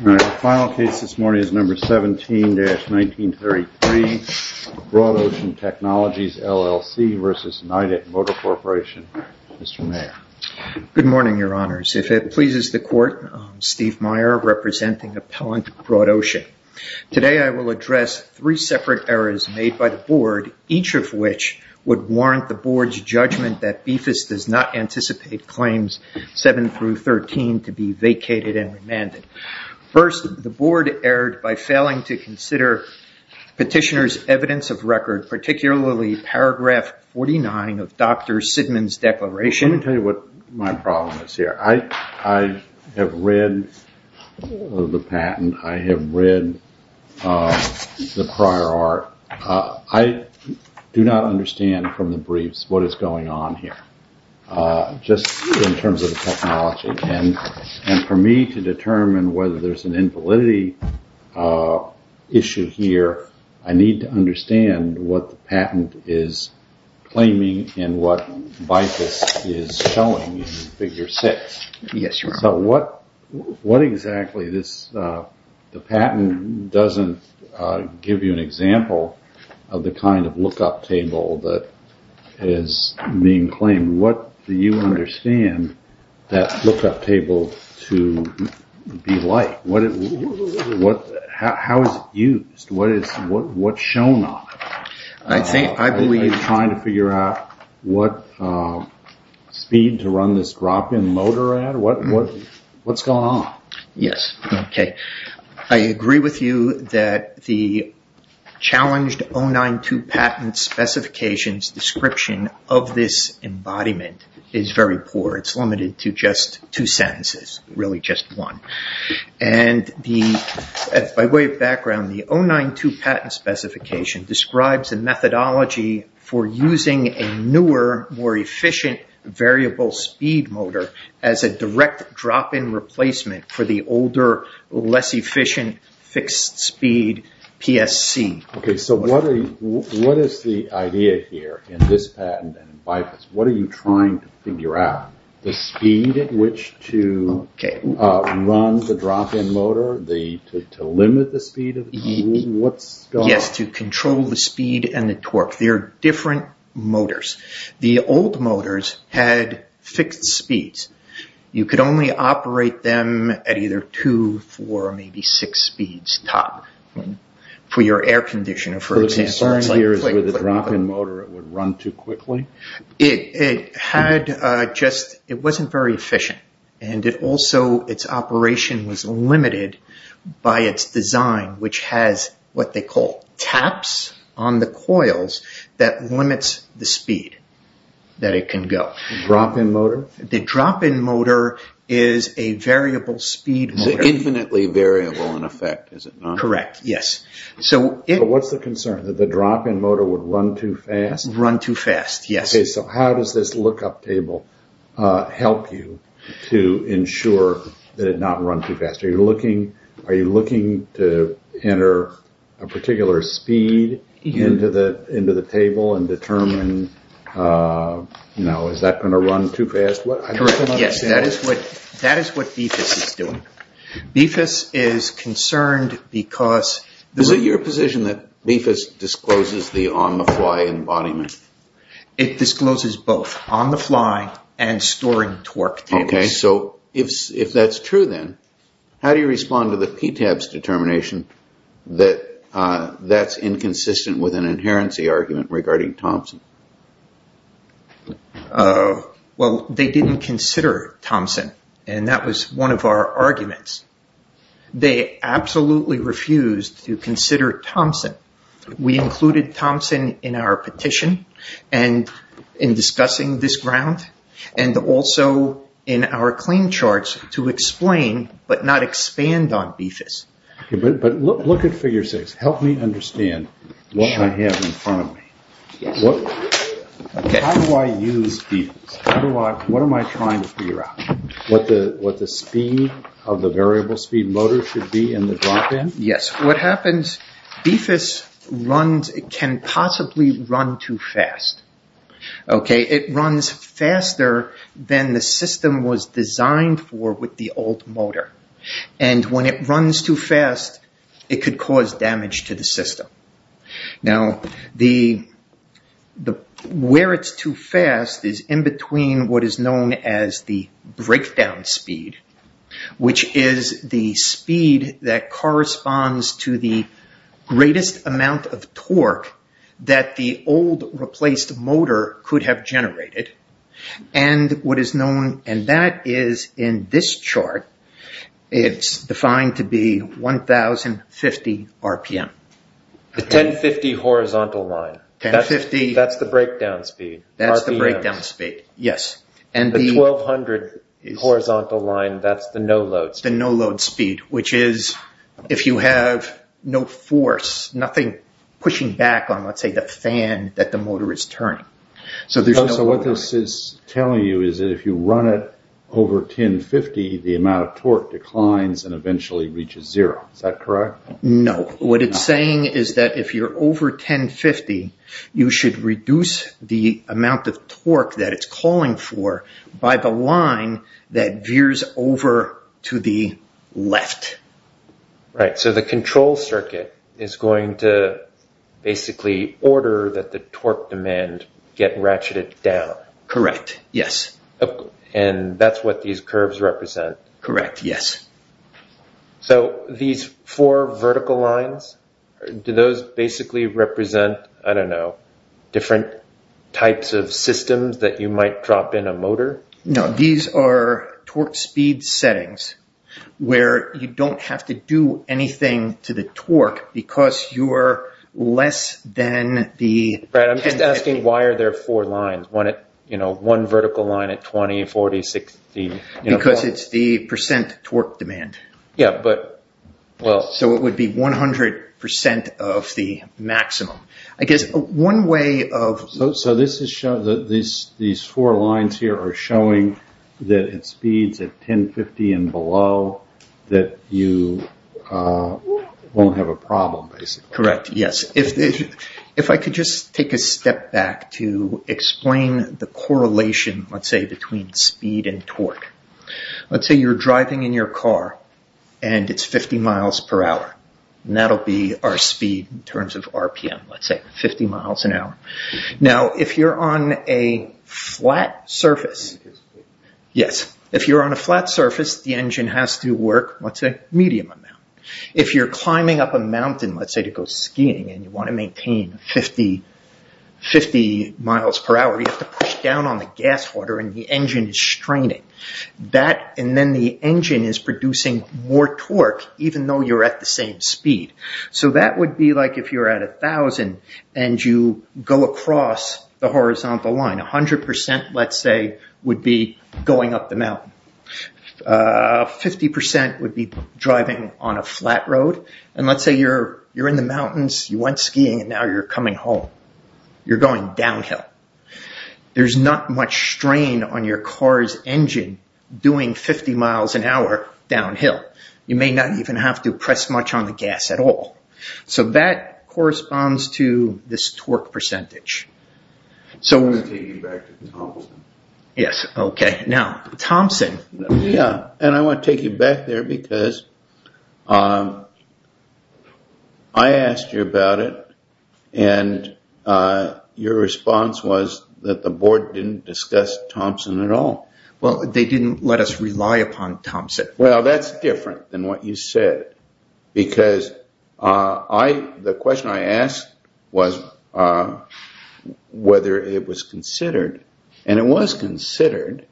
The final case this morning is number 17-1933, Broad Ocean Technologies, LLC v. Nidec Motor Good morning, your honors. If it pleases the court, I'm Steve Meyer, representing Appellant Broad Ocean. Today I will address three separate errors made by the Board, each of which would warrant the Board's judgment that BFIS does not anticipate claims 7-13 to be vacated and remanded. First, the Board erred by failing to consider Petitioner's evidence of record, particularly paragraph 49 of Dr. Sidman's declaration. Let me tell you what my problem is here. I have read the patent. I have read the prior art. I do not understand from the briefs what is going on here. For me to determine whether there is an invalidity issue here, I need to understand what the patent is claiming and what BFIS is showing in Figure 6. The patent doesn't give you an example of the kind of lookup table that is being claimed. What do you understand that lookup table to be like? How is it used? What is shown on it? Are they trying to figure out what speed to run this drop-in loader at? What's going on? I agree with you that the challenged 09-2 patent specifications description of this embodiment is very poor. It is limited to just two sentences, really just one. By way of background, the 09-2 patent specification describes a methodology for using a newer, more efficient variable speed motor as a direct drop-in replacement for the older, less efficient fixed speed PSC. What is the idea here in this patent and in BFIS? What are you trying to figure out? The speed at which to run the drop-in loader? To limit the speed? Yes, to control the speed and the torque. They are different motors. The old motors had fixed speeds. You could only operate them at either two, four, or maybe six speeds top for your air conditioner. The concern here is that with the drop-in motor it would run too quickly? It wasn't very efficient. Also, its operation was limited by its design, which has what they call taps on the coils that limits the speed that it can go. Drop-in motor? The drop-in motor is a variable speed motor. It's infinitely variable in effect, is it not? Correct, yes. What's the concern? That the drop-in motor would run too fast? Run too fast, yes. How does this lookup table help you to ensure that it does not run too fast? Are you looking to enter a particular speed into the table and determine, is that going to run too fast? Yes, that is what BIFAS is doing. BIFAS is concerned because... Is it your position that BIFAS discloses the on-the-fly embodiment? It discloses both on-the-fly and storing torque tables. Okay, so if that's true then, how do you respond to the PTAB's determination that that's inconsistent with an inherency argument regarding Thompson? Well, they didn't consider Thompson, and that was one of our arguments. They absolutely refused to consider Thompson. We included Thompson in our petition and in discussing this ground, and also in our claim charts to explain but not expand on BIFAS. But look at figure six. Help me understand what I have in front of me. How do I use BIFAS? What am I trying to figure out? What the speed of the variable speed motor should be in the drop-in? Yes, what happens, BIFAS can possibly run too fast. It runs faster than the system was designed for with the old motor. And when it runs too fast, it could cause damage to the system. Now, where it's too fast is in between what is known as the breakdown speed, which is the speed that corresponds to the greatest amount of torque that the old replaced motor could have generated, and what is known, and that is in this chart, it's defined to be 1,050 RPM. The 1,050 horizontal line. That's the breakdown speed. That's the breakdown speed, yes. And the 1,200 horizontal line, that's the no-load speed. The no-load speed, which is if you have no force, nothing pushing back on, let's say, the fan that the motor is turning. So what this is telling you is that if you run it over 1,050, the amount of torque declines and eventually reaches zero. Is that correct? No. What it's saying is that if you're over 1,050, you should reduce the amount of torque that it's calling for by the line that veers over to the left. Right. So the control circuit is going to basically order that the torque demand get ratcheted down. Correct. Yes. And that's what these curves represent? Correct. Yes. So these four vertical lines, do those basically represent, I don't know, different types of systems that you might drop in a motor? No. These are torque speed settings where you don't have to do anything to the torque because you're less than the 1,050. Right. I'm just asking, why are there four lines? One vertical line at 20, 40, 60? Because it's the percent torque demand. Yeah, but, well... So it would be 100% of the maximum. I guess one way of... So these four lines here are showing that at speeds of 1,050 and below that you won't have a problem, basically. Correct. Yes. If I could just take a step back to explain the correlation, let's say, between speed and torque. Let's say you're driving in your car and it's 50 miles per hour. That'll be our speed in terms of RPM, let's say, 50 miles an hour. Now, if you're on a flat surface... Yes. If you're on a flat surface, the engine has to work, let's say, medium amount. If you're climbing up a mountain, let's say, to go skiing and you want to maintain 50 miles per hour, you have to push down on the gas water and the engine is straining. And then the engine is producing more torque even though you're at the same speed. So that would be like if you're at 1,000 and you go across the horizontal line. 100%, let's say, would be going up the mountain. 50% would be driving on a flat road. And let's say you're in the mountains, you went skiing, and now you're coming home. You're going downhill. There's not much strain on your car's engine doing 50 miles an hour downhill. You may not even have to press much on the gas at all. So that corresponds to this torque percentage. I'm going to take you back to Thompson. Yes, okay. Now, Thompson... Yeah, and I want to take you back there because I asked you about it and your response was that the board didn't discuss Thompson at all. Well, they didn't let us rely upon Thompson. Well, that's different than what you said because the question I asked was whether it was considered. And it was considered.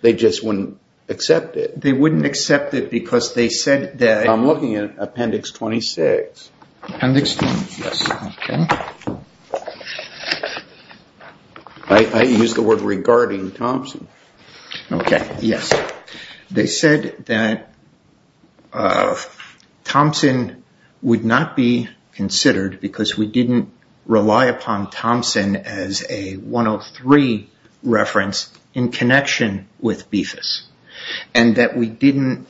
They just wouldn't accept it. They wouldn't accept it because they said that... I'm looking at Appendix 26. Appendix 26, okay. I used the word regarding Thompson. Okay, yes. They said that Thompson would not be considered because we didn't rely upon Thompson as a 103 reference in connection with BIFAS. And that we didn't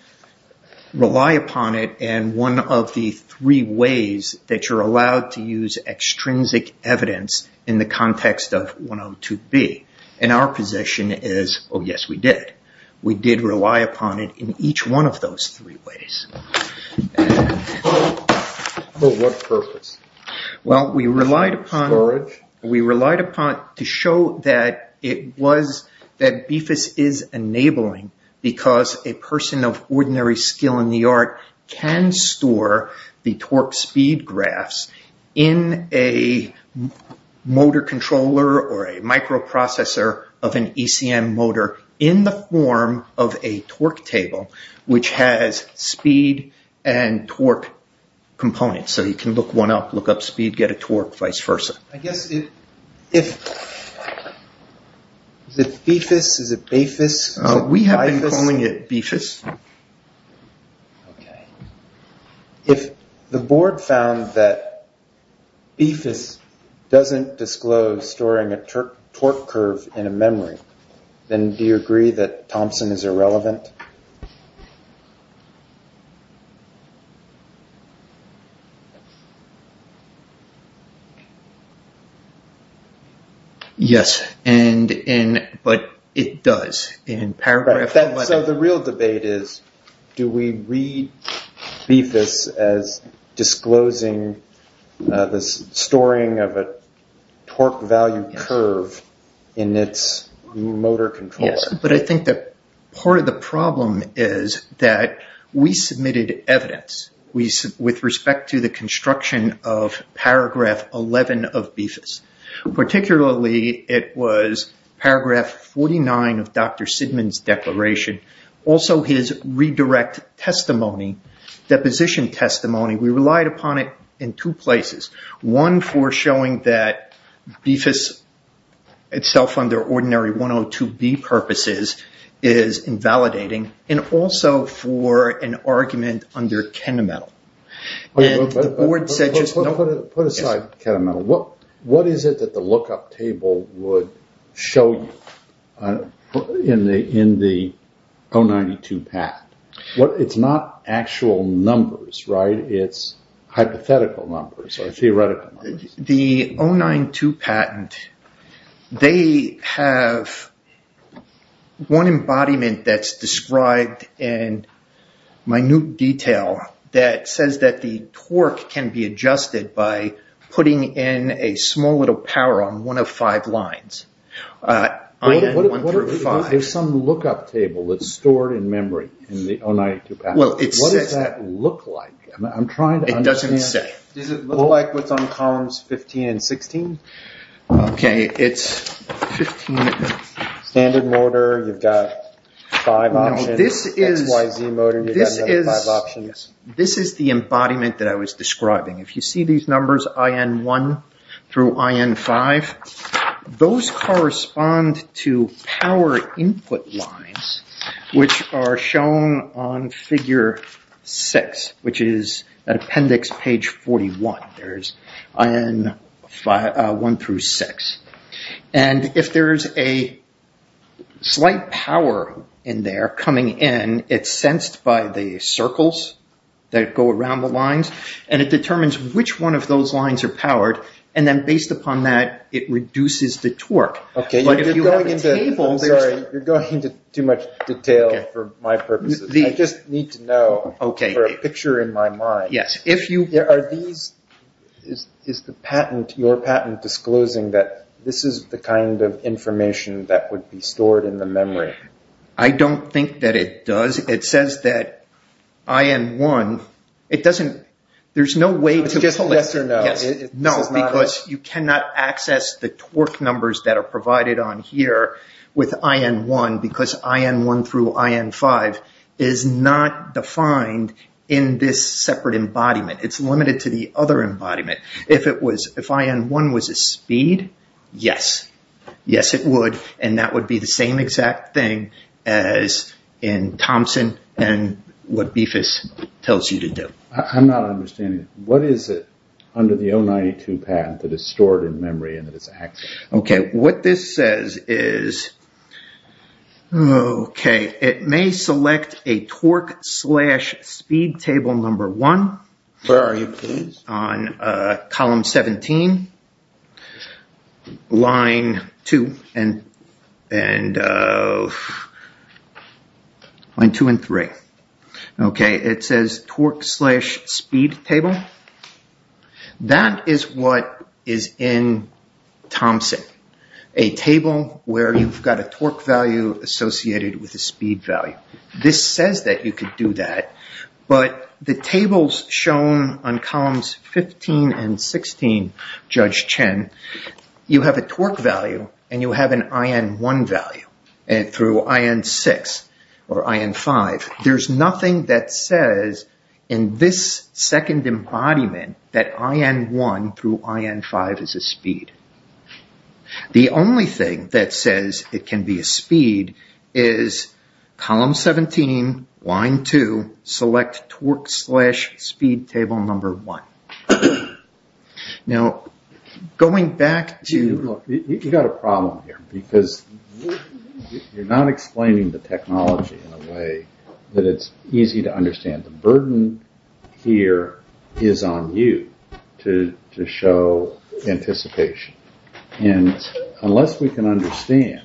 rely upon it in one of the three ways that you're allowed to use extrinsic evidence in the context of 102B. And our position is, oh, yes, we did. We did rely upon it in each one of those three ways. For what purpose? Well, we relied upon... Storage? of an ECM motor in the form of a torque table, which has speed and torque components. So you can look one up, look up speed, get a torque, vice versa. I guess if... Is it BIFAS? Is it BAFIS? We have been calling it BIFAS. Okay. If the board found that BIFAS doesn't disclose storing a torque curve in a memory, then do you agree that Thompson is irrelevant? Yes, but it does. So the real debate is, do we read BIFAS as disclosing the storing of a torque value curve in its motor control? Yes, but I think that part of the problem is that we submitted evidence with respect to the construction of paragraph 11 of BIFAS. Particularly, it was paragraph 49 of Dr. Sidman's declaration. Also, his redirect testimony, deposition testimony. We relied upon it in two places. One, for showing that BIFAS itself, under ordinary 102B purposes, is invalidating. And also for an argument under Kenamental. Put aside Kenamental. What is it that the lookup table would show you in the 092 patent? It's not actual numbers, right? It's hypothetical numbers or theoretical numbers. The 092 patent, they have one embodiment that's described in minute detail that says that the torque can be adjusted by putting in a small little power on one of five lines. IN-135. There's some lookup table that's stored in memory in the 092 patent. What does that look like? It doesn't say. Does it look like what's on columns 15 and 16? Okay, it's 15. Standard motor, you've got five options. XYZ motor, you've got another five options. This is the embodiment that I was describing. If you see these numbers IN-1 through IN-5, those correspond to power input lines, which are shown on figure 6, which is at appendix page 41. There's IN-1 through 6. If there's a slight power in there coming in, it's sensed by the circles that go around the lines, and it determines which one of those lines are powered. Based upon that, it reduces the torque. You're going into too much detail for my purposes. I just need to know for a picture in my mind. Is your patent disclosing that this is the kind of information that would be stored in the memory? I don't think that it does. It says that IN-1, there's no way to pull it. It's just a yes or no. No, because you cannot access the torque numbers that are provided on here with IN-1, because IN-1 through IN-5 is not defined in this separate embodiment. It's limited to the other embodiment. If IN-1 was a speed, yes. Yes, it would. That would be the same exact thing as in Thompson and what BIFAS tells you to do. I'm not understanding. What is it under the 092 patent that is stored in memory and that is accessed? What this says is, it may select a torque slash speed table number one. Where are you, please? It's on column 17, line two and three. It says torque slash speed table. That is what is in Thompson. A table where you've got a torque value associated with a speed value. This says that you could do that, but the tables shown on columns 15 and 16, Judge Chen, you have a torque value and you have an IN-1 value through IN-6 or IN-5. There's nothing that says in this second embodiment that IN-1 through IN-5 is a speed. The only thing that says it can be a speed is column 17, line two, select torque slash speed table number one. You've got a problem here because you're not explaining the technology in a way that it's easy to understand. The burden here is on you to show anticipation. Unless we can understand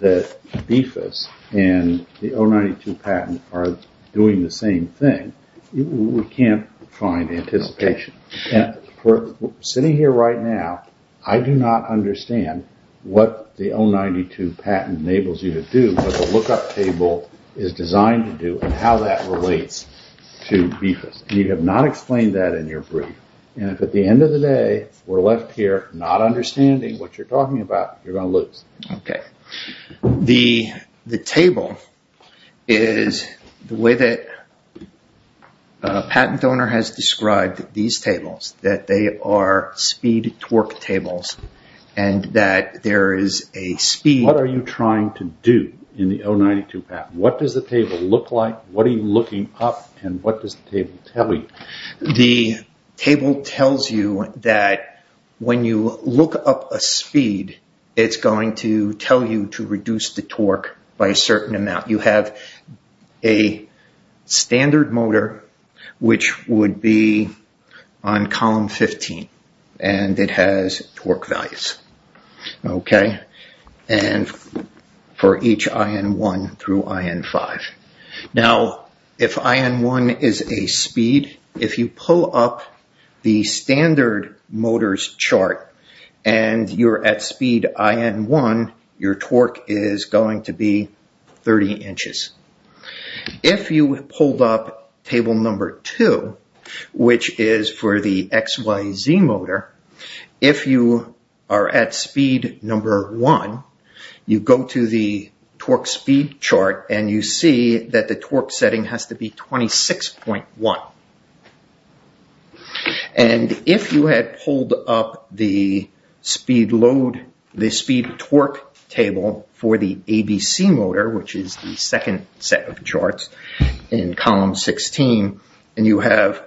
that BIFAS and the 092 patent are doing the same thing, we can't find anticipation. We're sitting here right now. I do not understand what the 092 patent enables you to do, but the lookup table is designed to do and how that relates to BIFAS. You have not explained that in your brief. If at the end of the day we're left here not understanding what you're talking about, you're going to lose. The table is the way that a patent owner has described these tables, that they are speed torque tables and that there is a speed. What are you trying to do in the 092 patent? What does the table look like? What are you looking up and what does the table tell you? The table tells you that when you look up a speed, it's going to tell you to reduce the torque by a certain amount. You have a standard motor, which would be on column 15, and it has torque values for each IN1 through IN5. Now, if IN1 is a speed, if you pull up the standard motors chart and you're at speed IN1, your torque is going to be 30 inches. If you pulled up table number 2, which is for the XYZ motor, if you are at speed number 1, you go to the torque speed chart and you see that the torque setting has to be 26.1. If you had pulled up the speed load, the speed torque table for the ABC motor, which is the second set of charts in column 16, and you have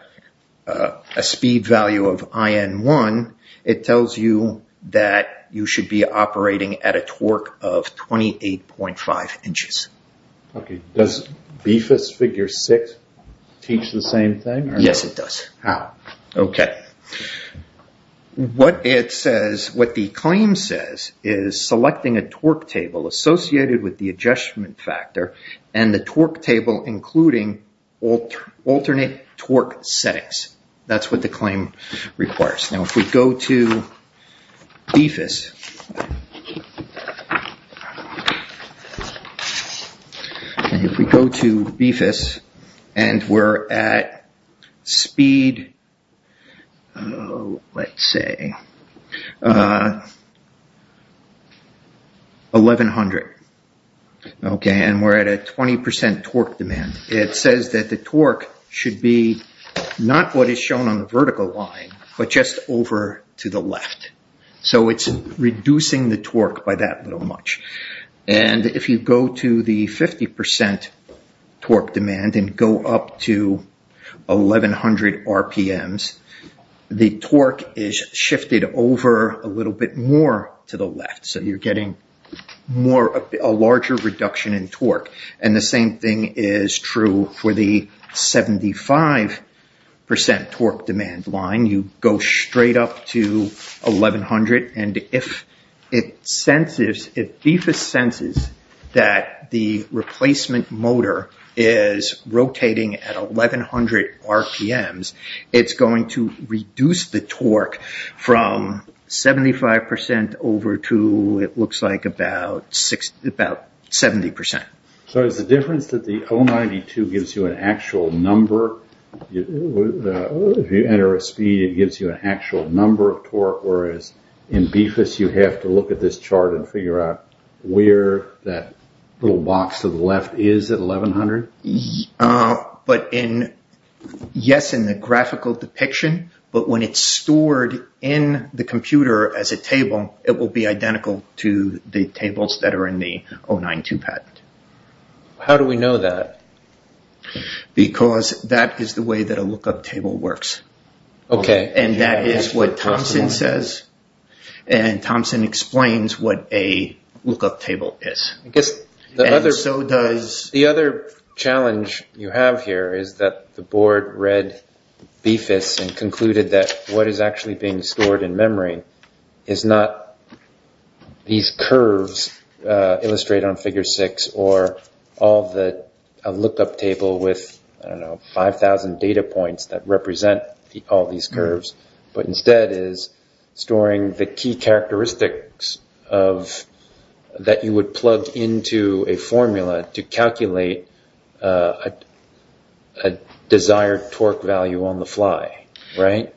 a speed value of IN1, it tells you that you should be operating at a torque of 28.5 inches. Does BIFAS figure 6 teach the same thing? Yes, it does. How? Okay. What the claim says is selecting a torque table associated with the adjustment factor and the torque table including alternate torque settings. That's what the claim requires. Now, if we go to BIFAS, and we're at speed, let's say, 1100, and we're at a 20% torque demand, it says that the torque should be not what is shown on the vertical line, but just over to the left. So it's reducing the torque by that little much. And if you go to the 50% torque demand and go up to 1100 RPMs, the torque is shifted over a little bit more to the left. So you're getting a larger reduction in torque. And the same thing is true for the 75% torque demand line. up to 1100. And if BIFAS senses that the replacement motor is rotating at 1100 RPMs, it's going to reduce the torque from 75% over to, it looks like, about 70%. So is the difference that the 092 gives you an actual number? If you enter a speed, it gives you an actual number of torque, whereas in BIFAS you have to look at this chart and figure out where that little box to the left is at 1100? Yes, in the graphical depiction, but when it's stored in the computer as a table, it will be identical to the tables that are in the 092 patent. How do we know that? Because that is the way that a lookup table works. Okay. And that is what Thompson says, and Thompson explains what a lookup table is. And so does... The other challenge you have here is that the board read BIFAS and concluded that what is actually being stored in memory is not these curves illustrated on figure six or a lookup table with, I don't know, 5,000 data points that represent all these curves, but instead is storing the key characteristics that you would plug into a formula to calculate a desired torque value on the fly, right?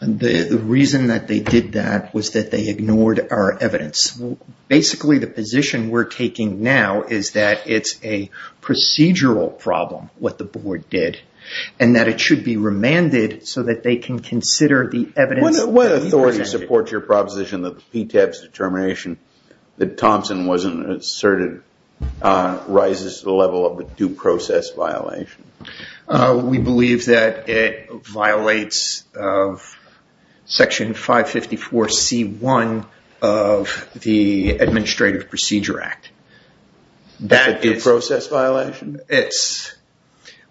The reason that they did that was that they ignored our evidence. Basically, the position we're taking now is that it's a procedural problem, what the board did, and that it should be remanded so that they can consider the evidence... What authority supports your proposition that the PTAB's determination that Thompson wasn't asserted rises to the level of a due process violation? We believe that it violates Section 554C1 of the Administrative Procedure Act. A due process violation? It's...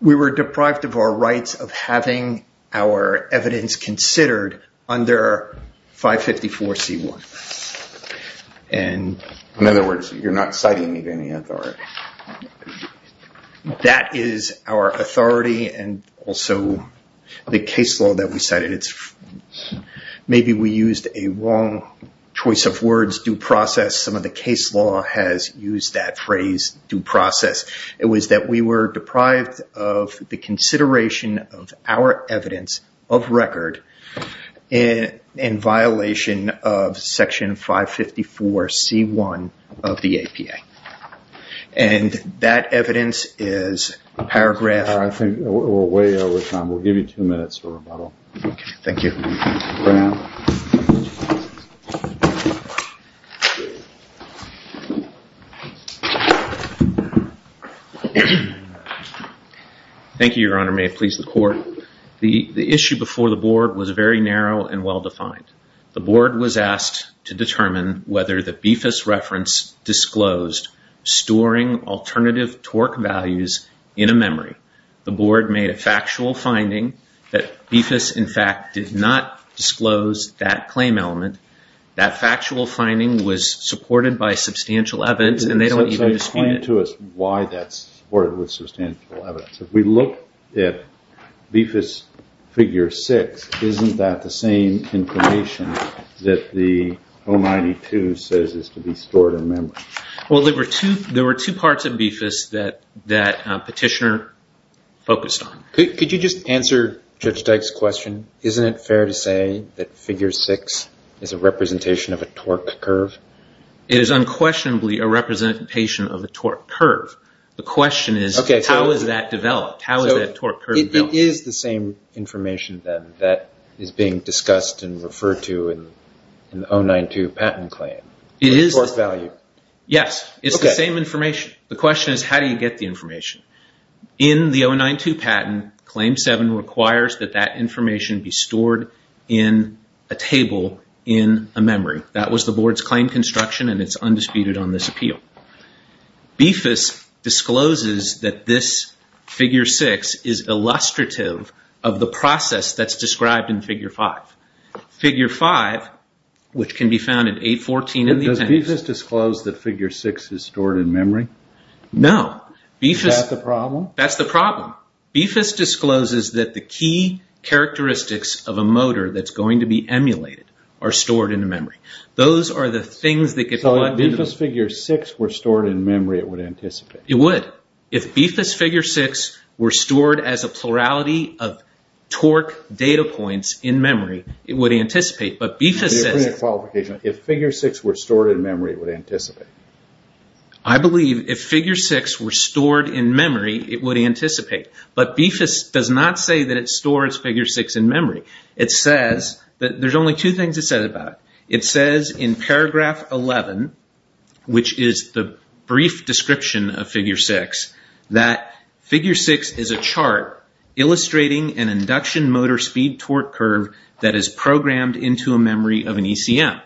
We were deprived of our rights of having our evidence considered under 554C1. In other words, you're not citing it in the authority. That is our authority and also the case law that we cited. Maybe we used a wrong choice of words, due process. Some of the case law has used that phrase, due process. It was that we were deprived of the consideration of our evidence of record in violation of Section 554C1 of the APA. And that evidence is a paragraph... I think we're way over time. We'll give you two minutes for rebuttal. Thank you. For now. Thank you, Your Honor. May it please the Court. The issue before the board was very narrow and well-defined. The board was asked to determine whether the BFIS reference disclosed storing alternative torque values in a memory. The board made a factual finding that BFIS, in fact, did not disclose that claim element. That factual finding was supported by substantial evidence and they don't even dispute it. Explain to us why that's supported with substantial evidence. If we look at BFIS Figure 6, isn't that the same information that the 092 says is to be stored in memory? Well, there were two parts of BFIS that Petitioner focused on. Could you just answer Judge Dyke's question? Isn't it fair to say that Figure 6 is a representation of a torque curve? It is unquestionably a representation of a torque curve. The question is, how is that developed? How is that torque curve developed? It is the same information, then, that is being discussed and referred to in the 092 patent claim, the torque value. Yes, it's the same information. The question is, how do you get the information? In the 092 patent, Claim 7 requires that that information be stored in a table in a memory. That was the board's claim construction and it's undisputed on this appeal. BFIS discloses that this Figure 6 is illustrative of the process that's described in Figure 5. Figure 5, which can be found in 814 in the appendix... Does BFIS disclose that Figure 6 is stored in memory? No. Is that the problem? That's the problem. BFIS discloses that the key characteristics of a motor that's going to be emulated are stored in a memory. Those are the things that get plugged into... So if BFIS Figure 6 were stored in memory, it would anticipate? It would. If BFIS Figure 6 were stored as a plurality of torque data points in memory, it would anticipate. But BFIS says... Can you repeat that qualification? If Figure 6 were stored in memory, it would anticipate? I believe if Figure 6 were stored in memory, it would anticipate. But BFIS does not say that it stores Figure 6 in memory. It says... There's only two things it says about it. It says in Paragraph 11, which is the brief description of Figure 6, that... Figure 6 is a chart illustrating an induction motor speed-torque curve that is programmed into a memory of an ECM.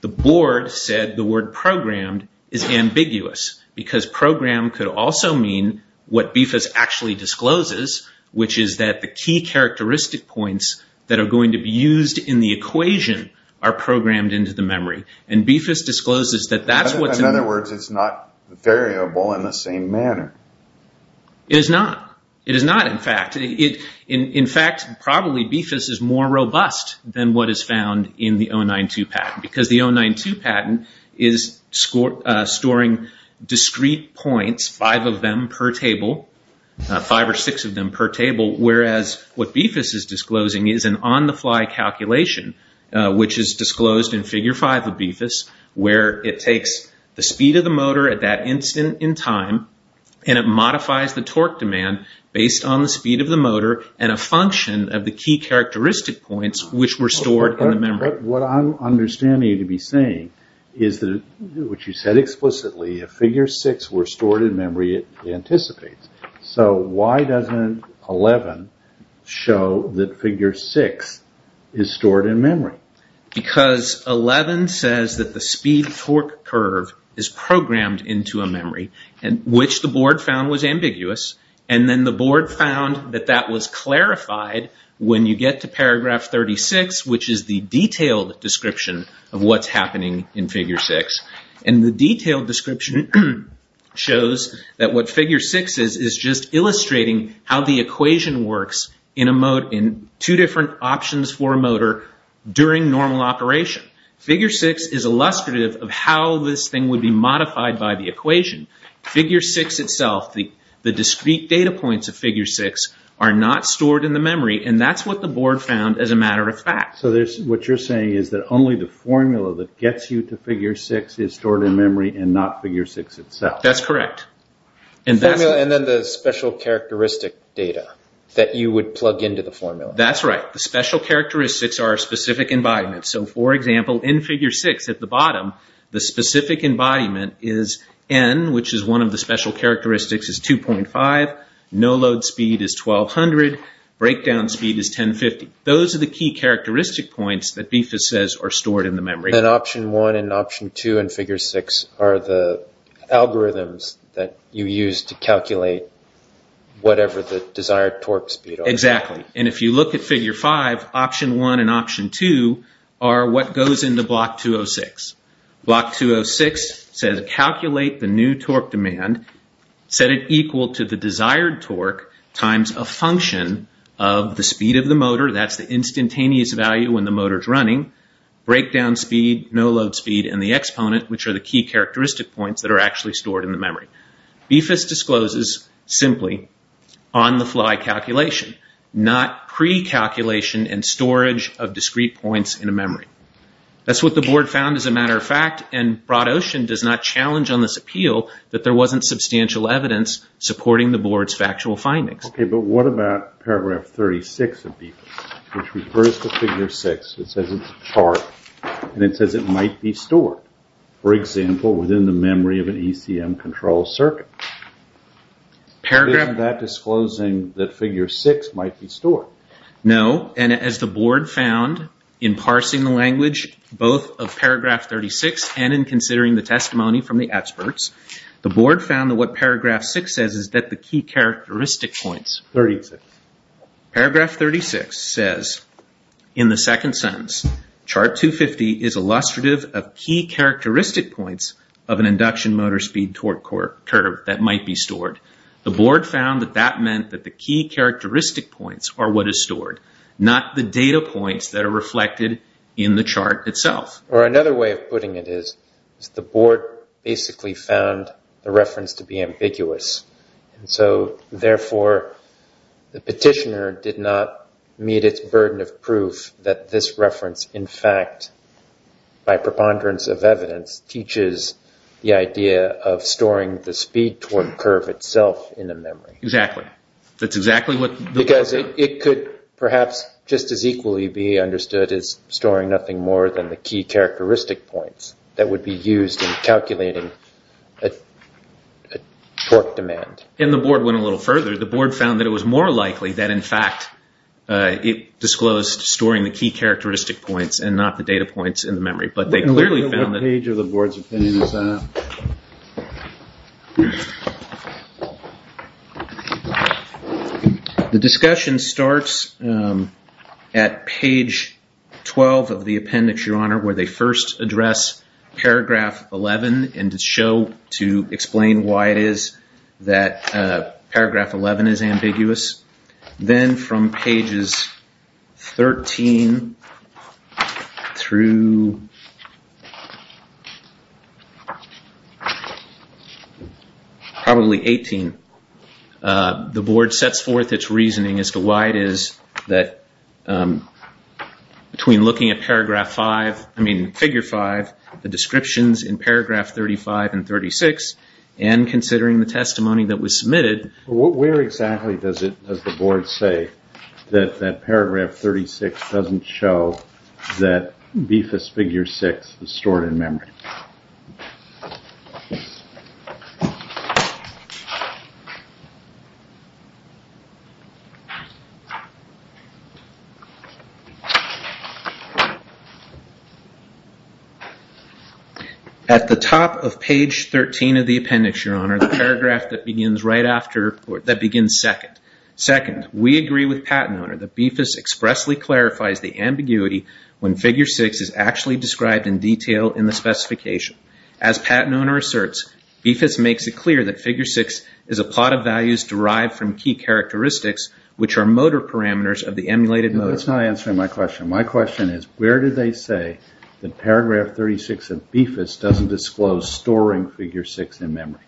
The board said the word programmed is ambiguous because programmed could also mean what BFIS actually discloses, which is that the key characteristic points that are going to be used in the equation are programmed into the memory. And BFIS discloses that that's what's... In other words, it's not variable in the same manner. It is not. It is not, in fact. In fact, probably BFIS is more robust than what is found in the 092 patent, is storing discrete points, five of them per table, five or six of them per table, whereas what BFIS is disclosing is an on-the-fly calculation, which is disclosed in Figure 5 of BFIS, where it takes the speed of the motor at that instant in time, and it modifies the torque demand based on the speed of the motor and a function of the key characteristic points which were stored in the memory. But what I'm understanding you to be saying is that what you said explicitly, if Figure 6 were stored in memory, it anticipates. So why doesn't 11 show that Figure 6 is stored in memory? Because 11 says that the speed-torque curve is programmed into a memory, which the board found was ambiguous, and then the board found that that was clarified when you get to Paragraph 36, which is the detailed description of what's happening in Figure 6. And the detailed description shows that what Figure 6 is, is just illustrating how the equation works in two different options for a motor during normal operation. Figure 6 is illustrative of how this thing would be modified by the equation. Figure 6 itself, the discrete data points of Figure 6, are not stored in the memory, and that's what the board found as a matter of fact. So what you're saying is that only the formula that gets you to Figure 6 is stored in memory and not Figure 6 itself. That's correct. And then the special characteristic data that you would plug into the formula. That's right. The special characteristics are specific embodiments. So, for example, in Figure 6 at the bottom, the specific embodiment is N, which is one of the special characteristics, is 2.5. No load speed is 1,200. Breakdown speed is 1,050. Those are the key characteristic points that BIFAS says are stored in the memory. And Option 1 and Option 2 in Figure 6 are the algorithms that you use to calculate whatever the desired torque speed is. Exactly. And if you look at Figure 5, Option 1 and Option 2 are what goes into Block 206. Block 206 says calculate the new torque demand, set it equal to the desired torque times a function of the speed of the motor, that's the instantaneous value when the motor is running, breakdown speed, no load speed, and the exponent, which are the key characteristic points that are actually stored in the memory. BIFAS discloses simply on-the-fly calculation, not pre-calculation and storage of discrete points in a memory. That's what the board found, as a matter of fact, and BroadOcean does not challenge on this appeal that there wasn't substantial evidence supporting the board's factual findings. Okay, but what about Paragraph 36 of BIFAS, which refers to Figure 6. It says it's a chart, and it says it might be stored, for example, within the memory of an ECM control circuit. Isn't that disclosing that Figure 6 might be stored? No, and as the board found in parsing the language, both of Paragraph 36 and in considering the testimony from the experts, the board found that what Paragraph 6 says is that the key characteristic points. Paragraph 36 says, in the second sentence, Chart 250 is illustrative of key characteristic points of an induction motor speed torque curve that might be stored. The board found that that meant that the key characteristic points are what is stored, not the data points that are reflected in the chart itself. Or another way of putting it is the board basically found the reference to be ambiguous, and so therefore the petitioner did not meet its burden of proof that this reference, in fact, by preponderance of evidence, teaches the idea of storing the speed torque curve itself in the memory. Exactly. That's exactly what the board found. Because it could perhaps just as equally be understood as storing nothing more than the key characteristic points that would be used in calculating torque demand. And the board went a little further. The board found that it was more likely that, in fact, it disclosed storing the key characteristic points and not the data points in the memory. What page of the board's opinion is that? The discussion starts at page 12 of the appendix, Your Honor, where they first address Paragraph 11 and show to explain why it is that Paragraph 11 is ambiguous. Then from pages 13 through probably 18, the board sets forth its reasoning as to why it is that between looking at Paragraph 5, the descriptions in Paragraph 35 and 36, and considering the testimony that was submitted. Where exactly does the board say that Paragraph 36 doesn't show that BIFAS Figure 6 is stored in memory? At the top of page 13 of the appendix, Your Honor, the paragraph that begins second, we agree with Pat and Owner that BIFAS expressly clarifies the ambiguity when Figure 6 is actually described in detail in the specification. As Pat and Owner asserts, BIFAS makes it clear that Figure 6 is a plot of values derived from key characteristics, which are motor parameters of the emulated motor. No, that's not answering my question. My question is, where do they say that Paragraph 36 of BIFAS doesn't disclose storing Figure 6 in memory?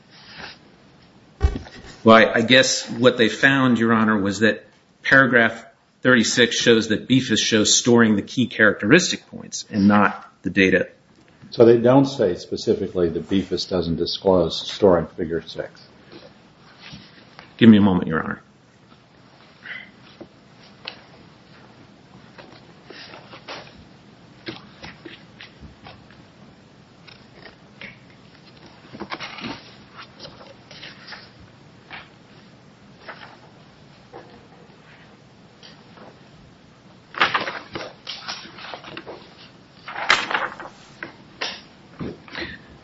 Well, I guess what they found, Your Honor, was that Paragraph 36 shows that BIFAS shows storing the key characteristic points and not the data. So they don't say specifically that BIFAS doesn't disclose storing Figure 6? Give me a moment, Your Honor.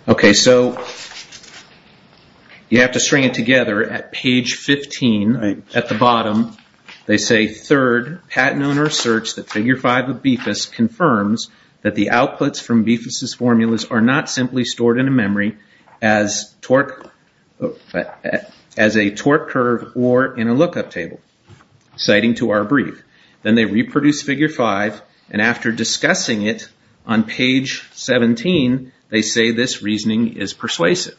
Okay. So you have to string it together at page 15. At the bottom, they say, Third, Pat and Owner asserts that Figure 5 of BIFAS confirms that the outputs from as a torque curve or in a lookup table, citing to our brief. Then they reproduce Figure 5, and after discussing it on page 17, they say this reasoning is persuasive.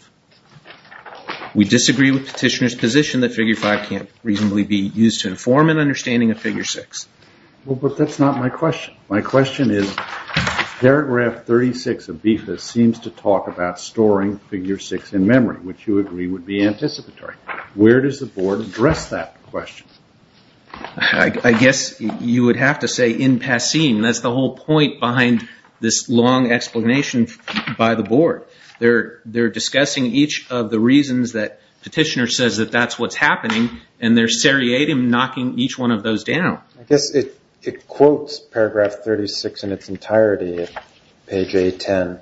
We disagree with Petitioner's position that Figure 5 can't reasonably be used to inform an understanding of Figure 6. Well, but that's not my question. My question is, Paragraph 36 of BIFAS seems to talk about storing Figure 6 in memory, which you agree would be anticipatory. Where does the Board address that question? I guess you would have to say in passing. That's the whole point behind this long explanation by the Board. They're discussing each of the reasons that Petitioner says that that's what's happening, and they're seriatim knocking each one of those down. I guess it quotes Paragraph 36 in its entirety at page 810.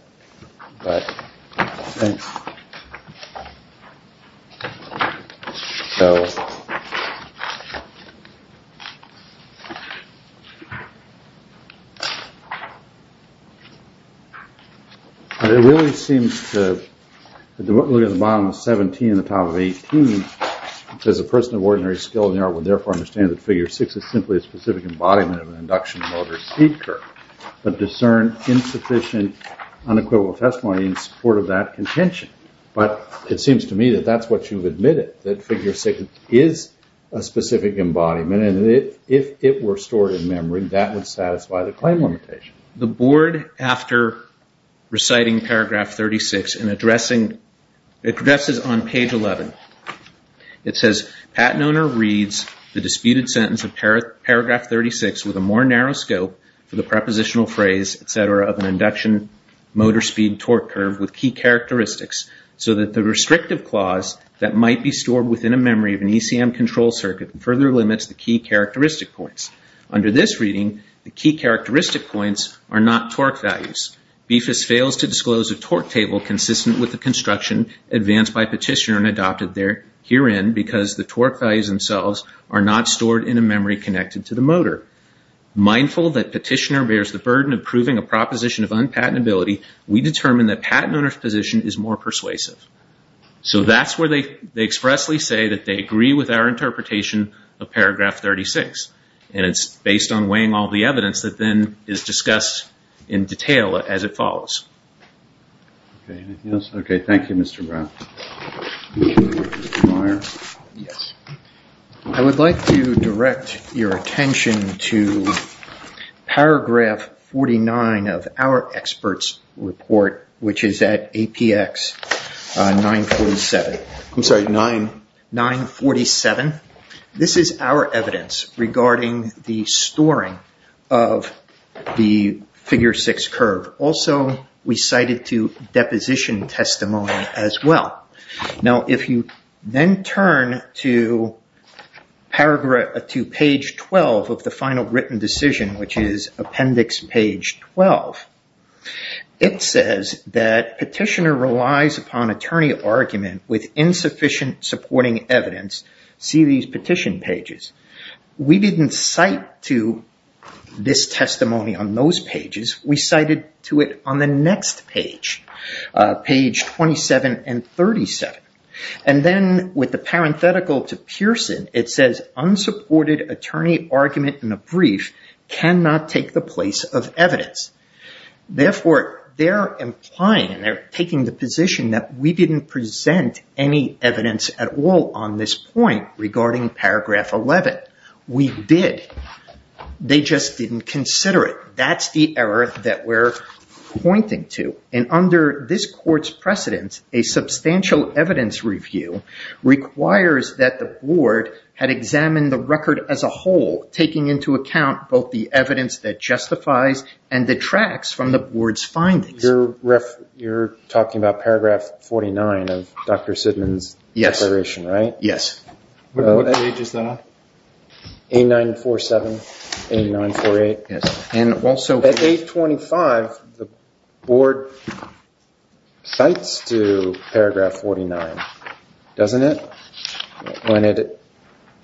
It really seems to look at the bottom of 17 and the top of 18. It says a person of ordinary skill in the art would therefore understand that Figure 6 is simply a specific embodiment of an induction motor speed curve, but discern insufficient, unequivocal testimony in support of that contention. But it seems to me that that's what you've admitted, that Figure 6 is a specific embodiment, and if it were stored in memory, that would satisfy the claim limitation. The Board, after reciting Paragraph 36, addresses on page 11. It says, Pat Noner reads the disputed sentence of Paragraph 36 with a more narrow scope for the prepositional phrase, etc., of an induction motor speed torque curve with key characteristics so that the restrictive clause that might be stored within a memory of an ECM control circuit further limits the key characteristic points. Under this reading, the key characteristic points are not torque values. BFIS fails to disclose a torque table consistent with the construction advanced by Petitioner and adopted herein because the torque values themselves are not stored in a memory connected to the motor. Mindful that Petitioner bears the burden of proving a proposition of unpatentability, we determine that Pat Noner's position is more persuasive. So that's where they expressly say that they agree with our interpretation of Paragraph 36. And it's based on weighing all the evidence that then is discussed in detail as it follows. Okay, anything else? Okay, thank you, Mr. Brown. Mr. Meyer? Yes. I would like to direct your attention to Paragraph 49 of our expert's report, which is at APX 947. I'm sorry, 9? 947. This is our evidence regarding the storing of the Figure 6 curve. Also, we cite it to deposition testimony as well. Now, if you then turn to Page 12 of the final written decision, which is Appendix Page 12, it says that Petitioner relies upon attorney argument with insufficient supporting evidence. See these petition pages. We didn't cite to this testimony on those pages. We cited to it on the next page, Page 27 and 37. And then with the parenthetical to Pearson, it says, unsupported attorney argument in a brief cannot take the place of evidence. Therefore, they're implying and they're taking the position that we didn't present any evidence at all on this point regarding Paragraph 11. We did. They just didn't consider it. That's the error that we're pointing to. And under this court's precedence, a substantial evidence review requires that the board had examined the record as a whole, taking into account both the evidence that justifies and detracts from the board's findings. You're talking about Paragraph 49 of Dr. Sidman's declaration, right? Yes. What age is that? 8947, 8948. At age 25, the board cites to Paragraph 49, doesn't it? When it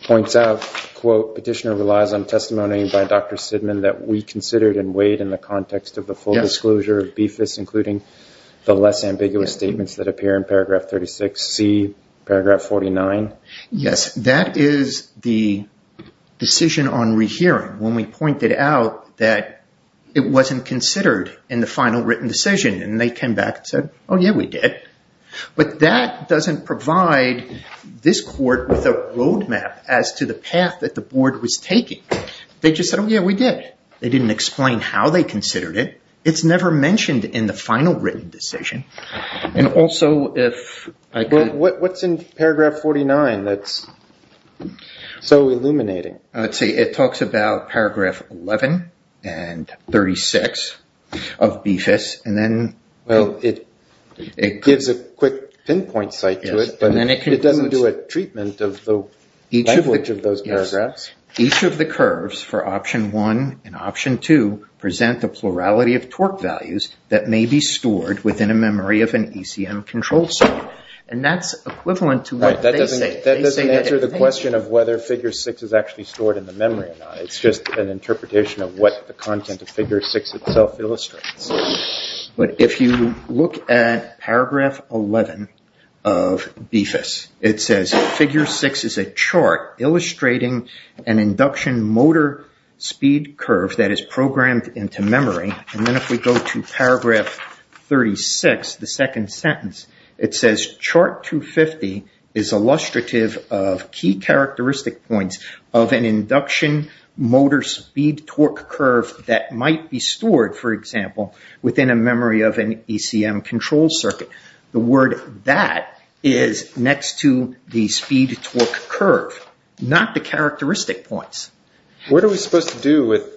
points out, quote, petitioner relies on testimony by Dr. Sidman that we considered and weighed in the context of the full disclosure of BFIS, including the less ambiguous statements that appear in Paragraph 36C, Paragraph 49. Yes, that is the decision on rehearing. When we pointed out that it wasn't considered in the final written decision, and they came back and said, oh, yeah, we did. But that doesn't provide this court with a roadmap as to the path that the board was taking. They just said, oh, yeah, we did. They didn't explain how they considered it. It's never mentioned in the final written decision. And also, if I could… What's in Paragraph 49 that's so illuminating? Let's see. It talks about Paragraph 11 and 36 of BFIS, and then… Well, it gives a quick pinpoint site to it, but it doesn't do a treatment of the language of those paragraphs. Each of the curves for Option 1 and Option 2 present the plurality of torque values that may be stored within a memory of an ECM controlled circuit. And that's equivalent to what they say. That doesn't answer the question of whether Figure 6 is actually stored in the memory or not. It's just an interpretation of what the content of Figure 6 itself illustrates. But if you look at Paragraph 11 of BFIS, it says, Figure 6 is a chart illustrating an induction motor speed curve that is programmed into memory. And then if we go to Paragraph 36, the second sentence, it says, Chart 250 is illustrative of key characteristic points of an induction motor speed torque curve that might be stored, for example, within a memory of an ECM controlled circuit. The word that is next to the speed torque curve, not the characteristic points. What are we supposed to do with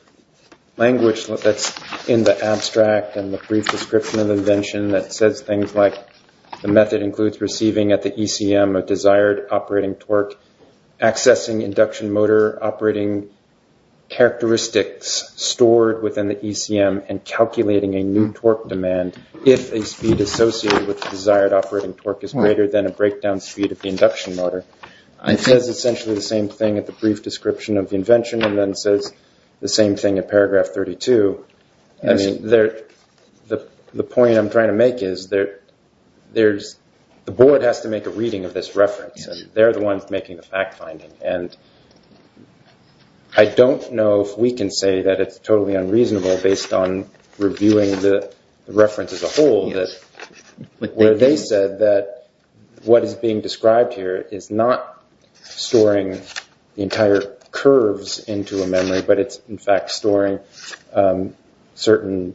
language that's in the abstract and the brief description of the invention that says things like, the method includes receiving at the ECM a desired operating torque, accessing induction motor operating characteristics stored within the ECM, and calculating a new torque demand if a speed associated with the desired operating torque is greater than a breakdown speed of the induction motor? It says essentially the same thing at the brief description of the invention and then says the same thing at Paragraph 32. I mean, the point I'm trying to make is that the board has to make a reading of this reference. And they're the ones making the fact finding. And I don't know if we can say that it's totally unreasonable based on reviewing the reference as a whole, where they said that what is being described here is not storing the entire curves into a memory, but it's in fact storing certain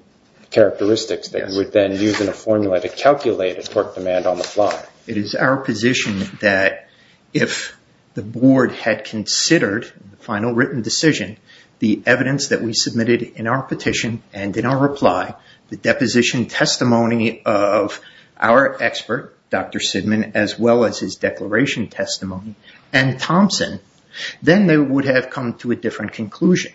characteristics that you would then use in a formula to calculate a torque demand on the fly. It is our position that if the board had considered the final written decision, the evidence that we submitted in our petition and in our reply, the deposition testimony of our expert, Dr. Sidman, as well as his declaration testimony and Thompson, then they would have come to a different conclusion.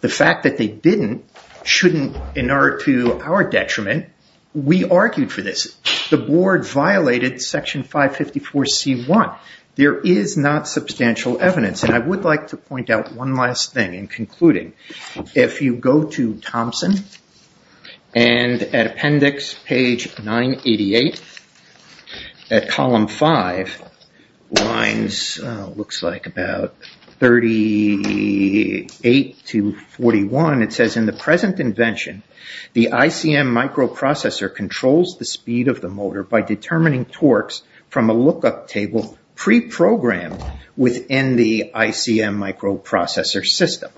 The fact that they didn't shouldn't in order to our detriment, we argued for this. The board violated Section 554C1. There is not substantial evidence. And I would like to point out one last thing in concluding. If you go to Thompson, and at appendix page 988, at column 5, lines looks like about 38 to 41, it says in the present invention, the ICM microprocessor controls the speed of the motor by determining torques from a lookup table pre-programmed within the ICM microprocessor system.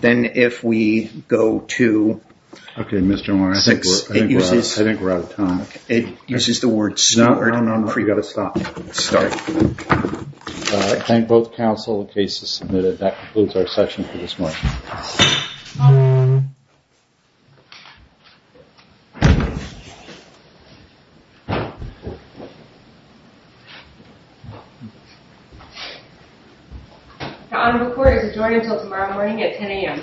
Then if we go to... Okay, Mr. O'Reilly, I think we're out of time. It uses the word stored. No, no, no. We've got to stop. I thank both counsel, the case is submitted. That concludes our session for this morning. The honorable court is adjourned until tomorrow morning at 10 a.m.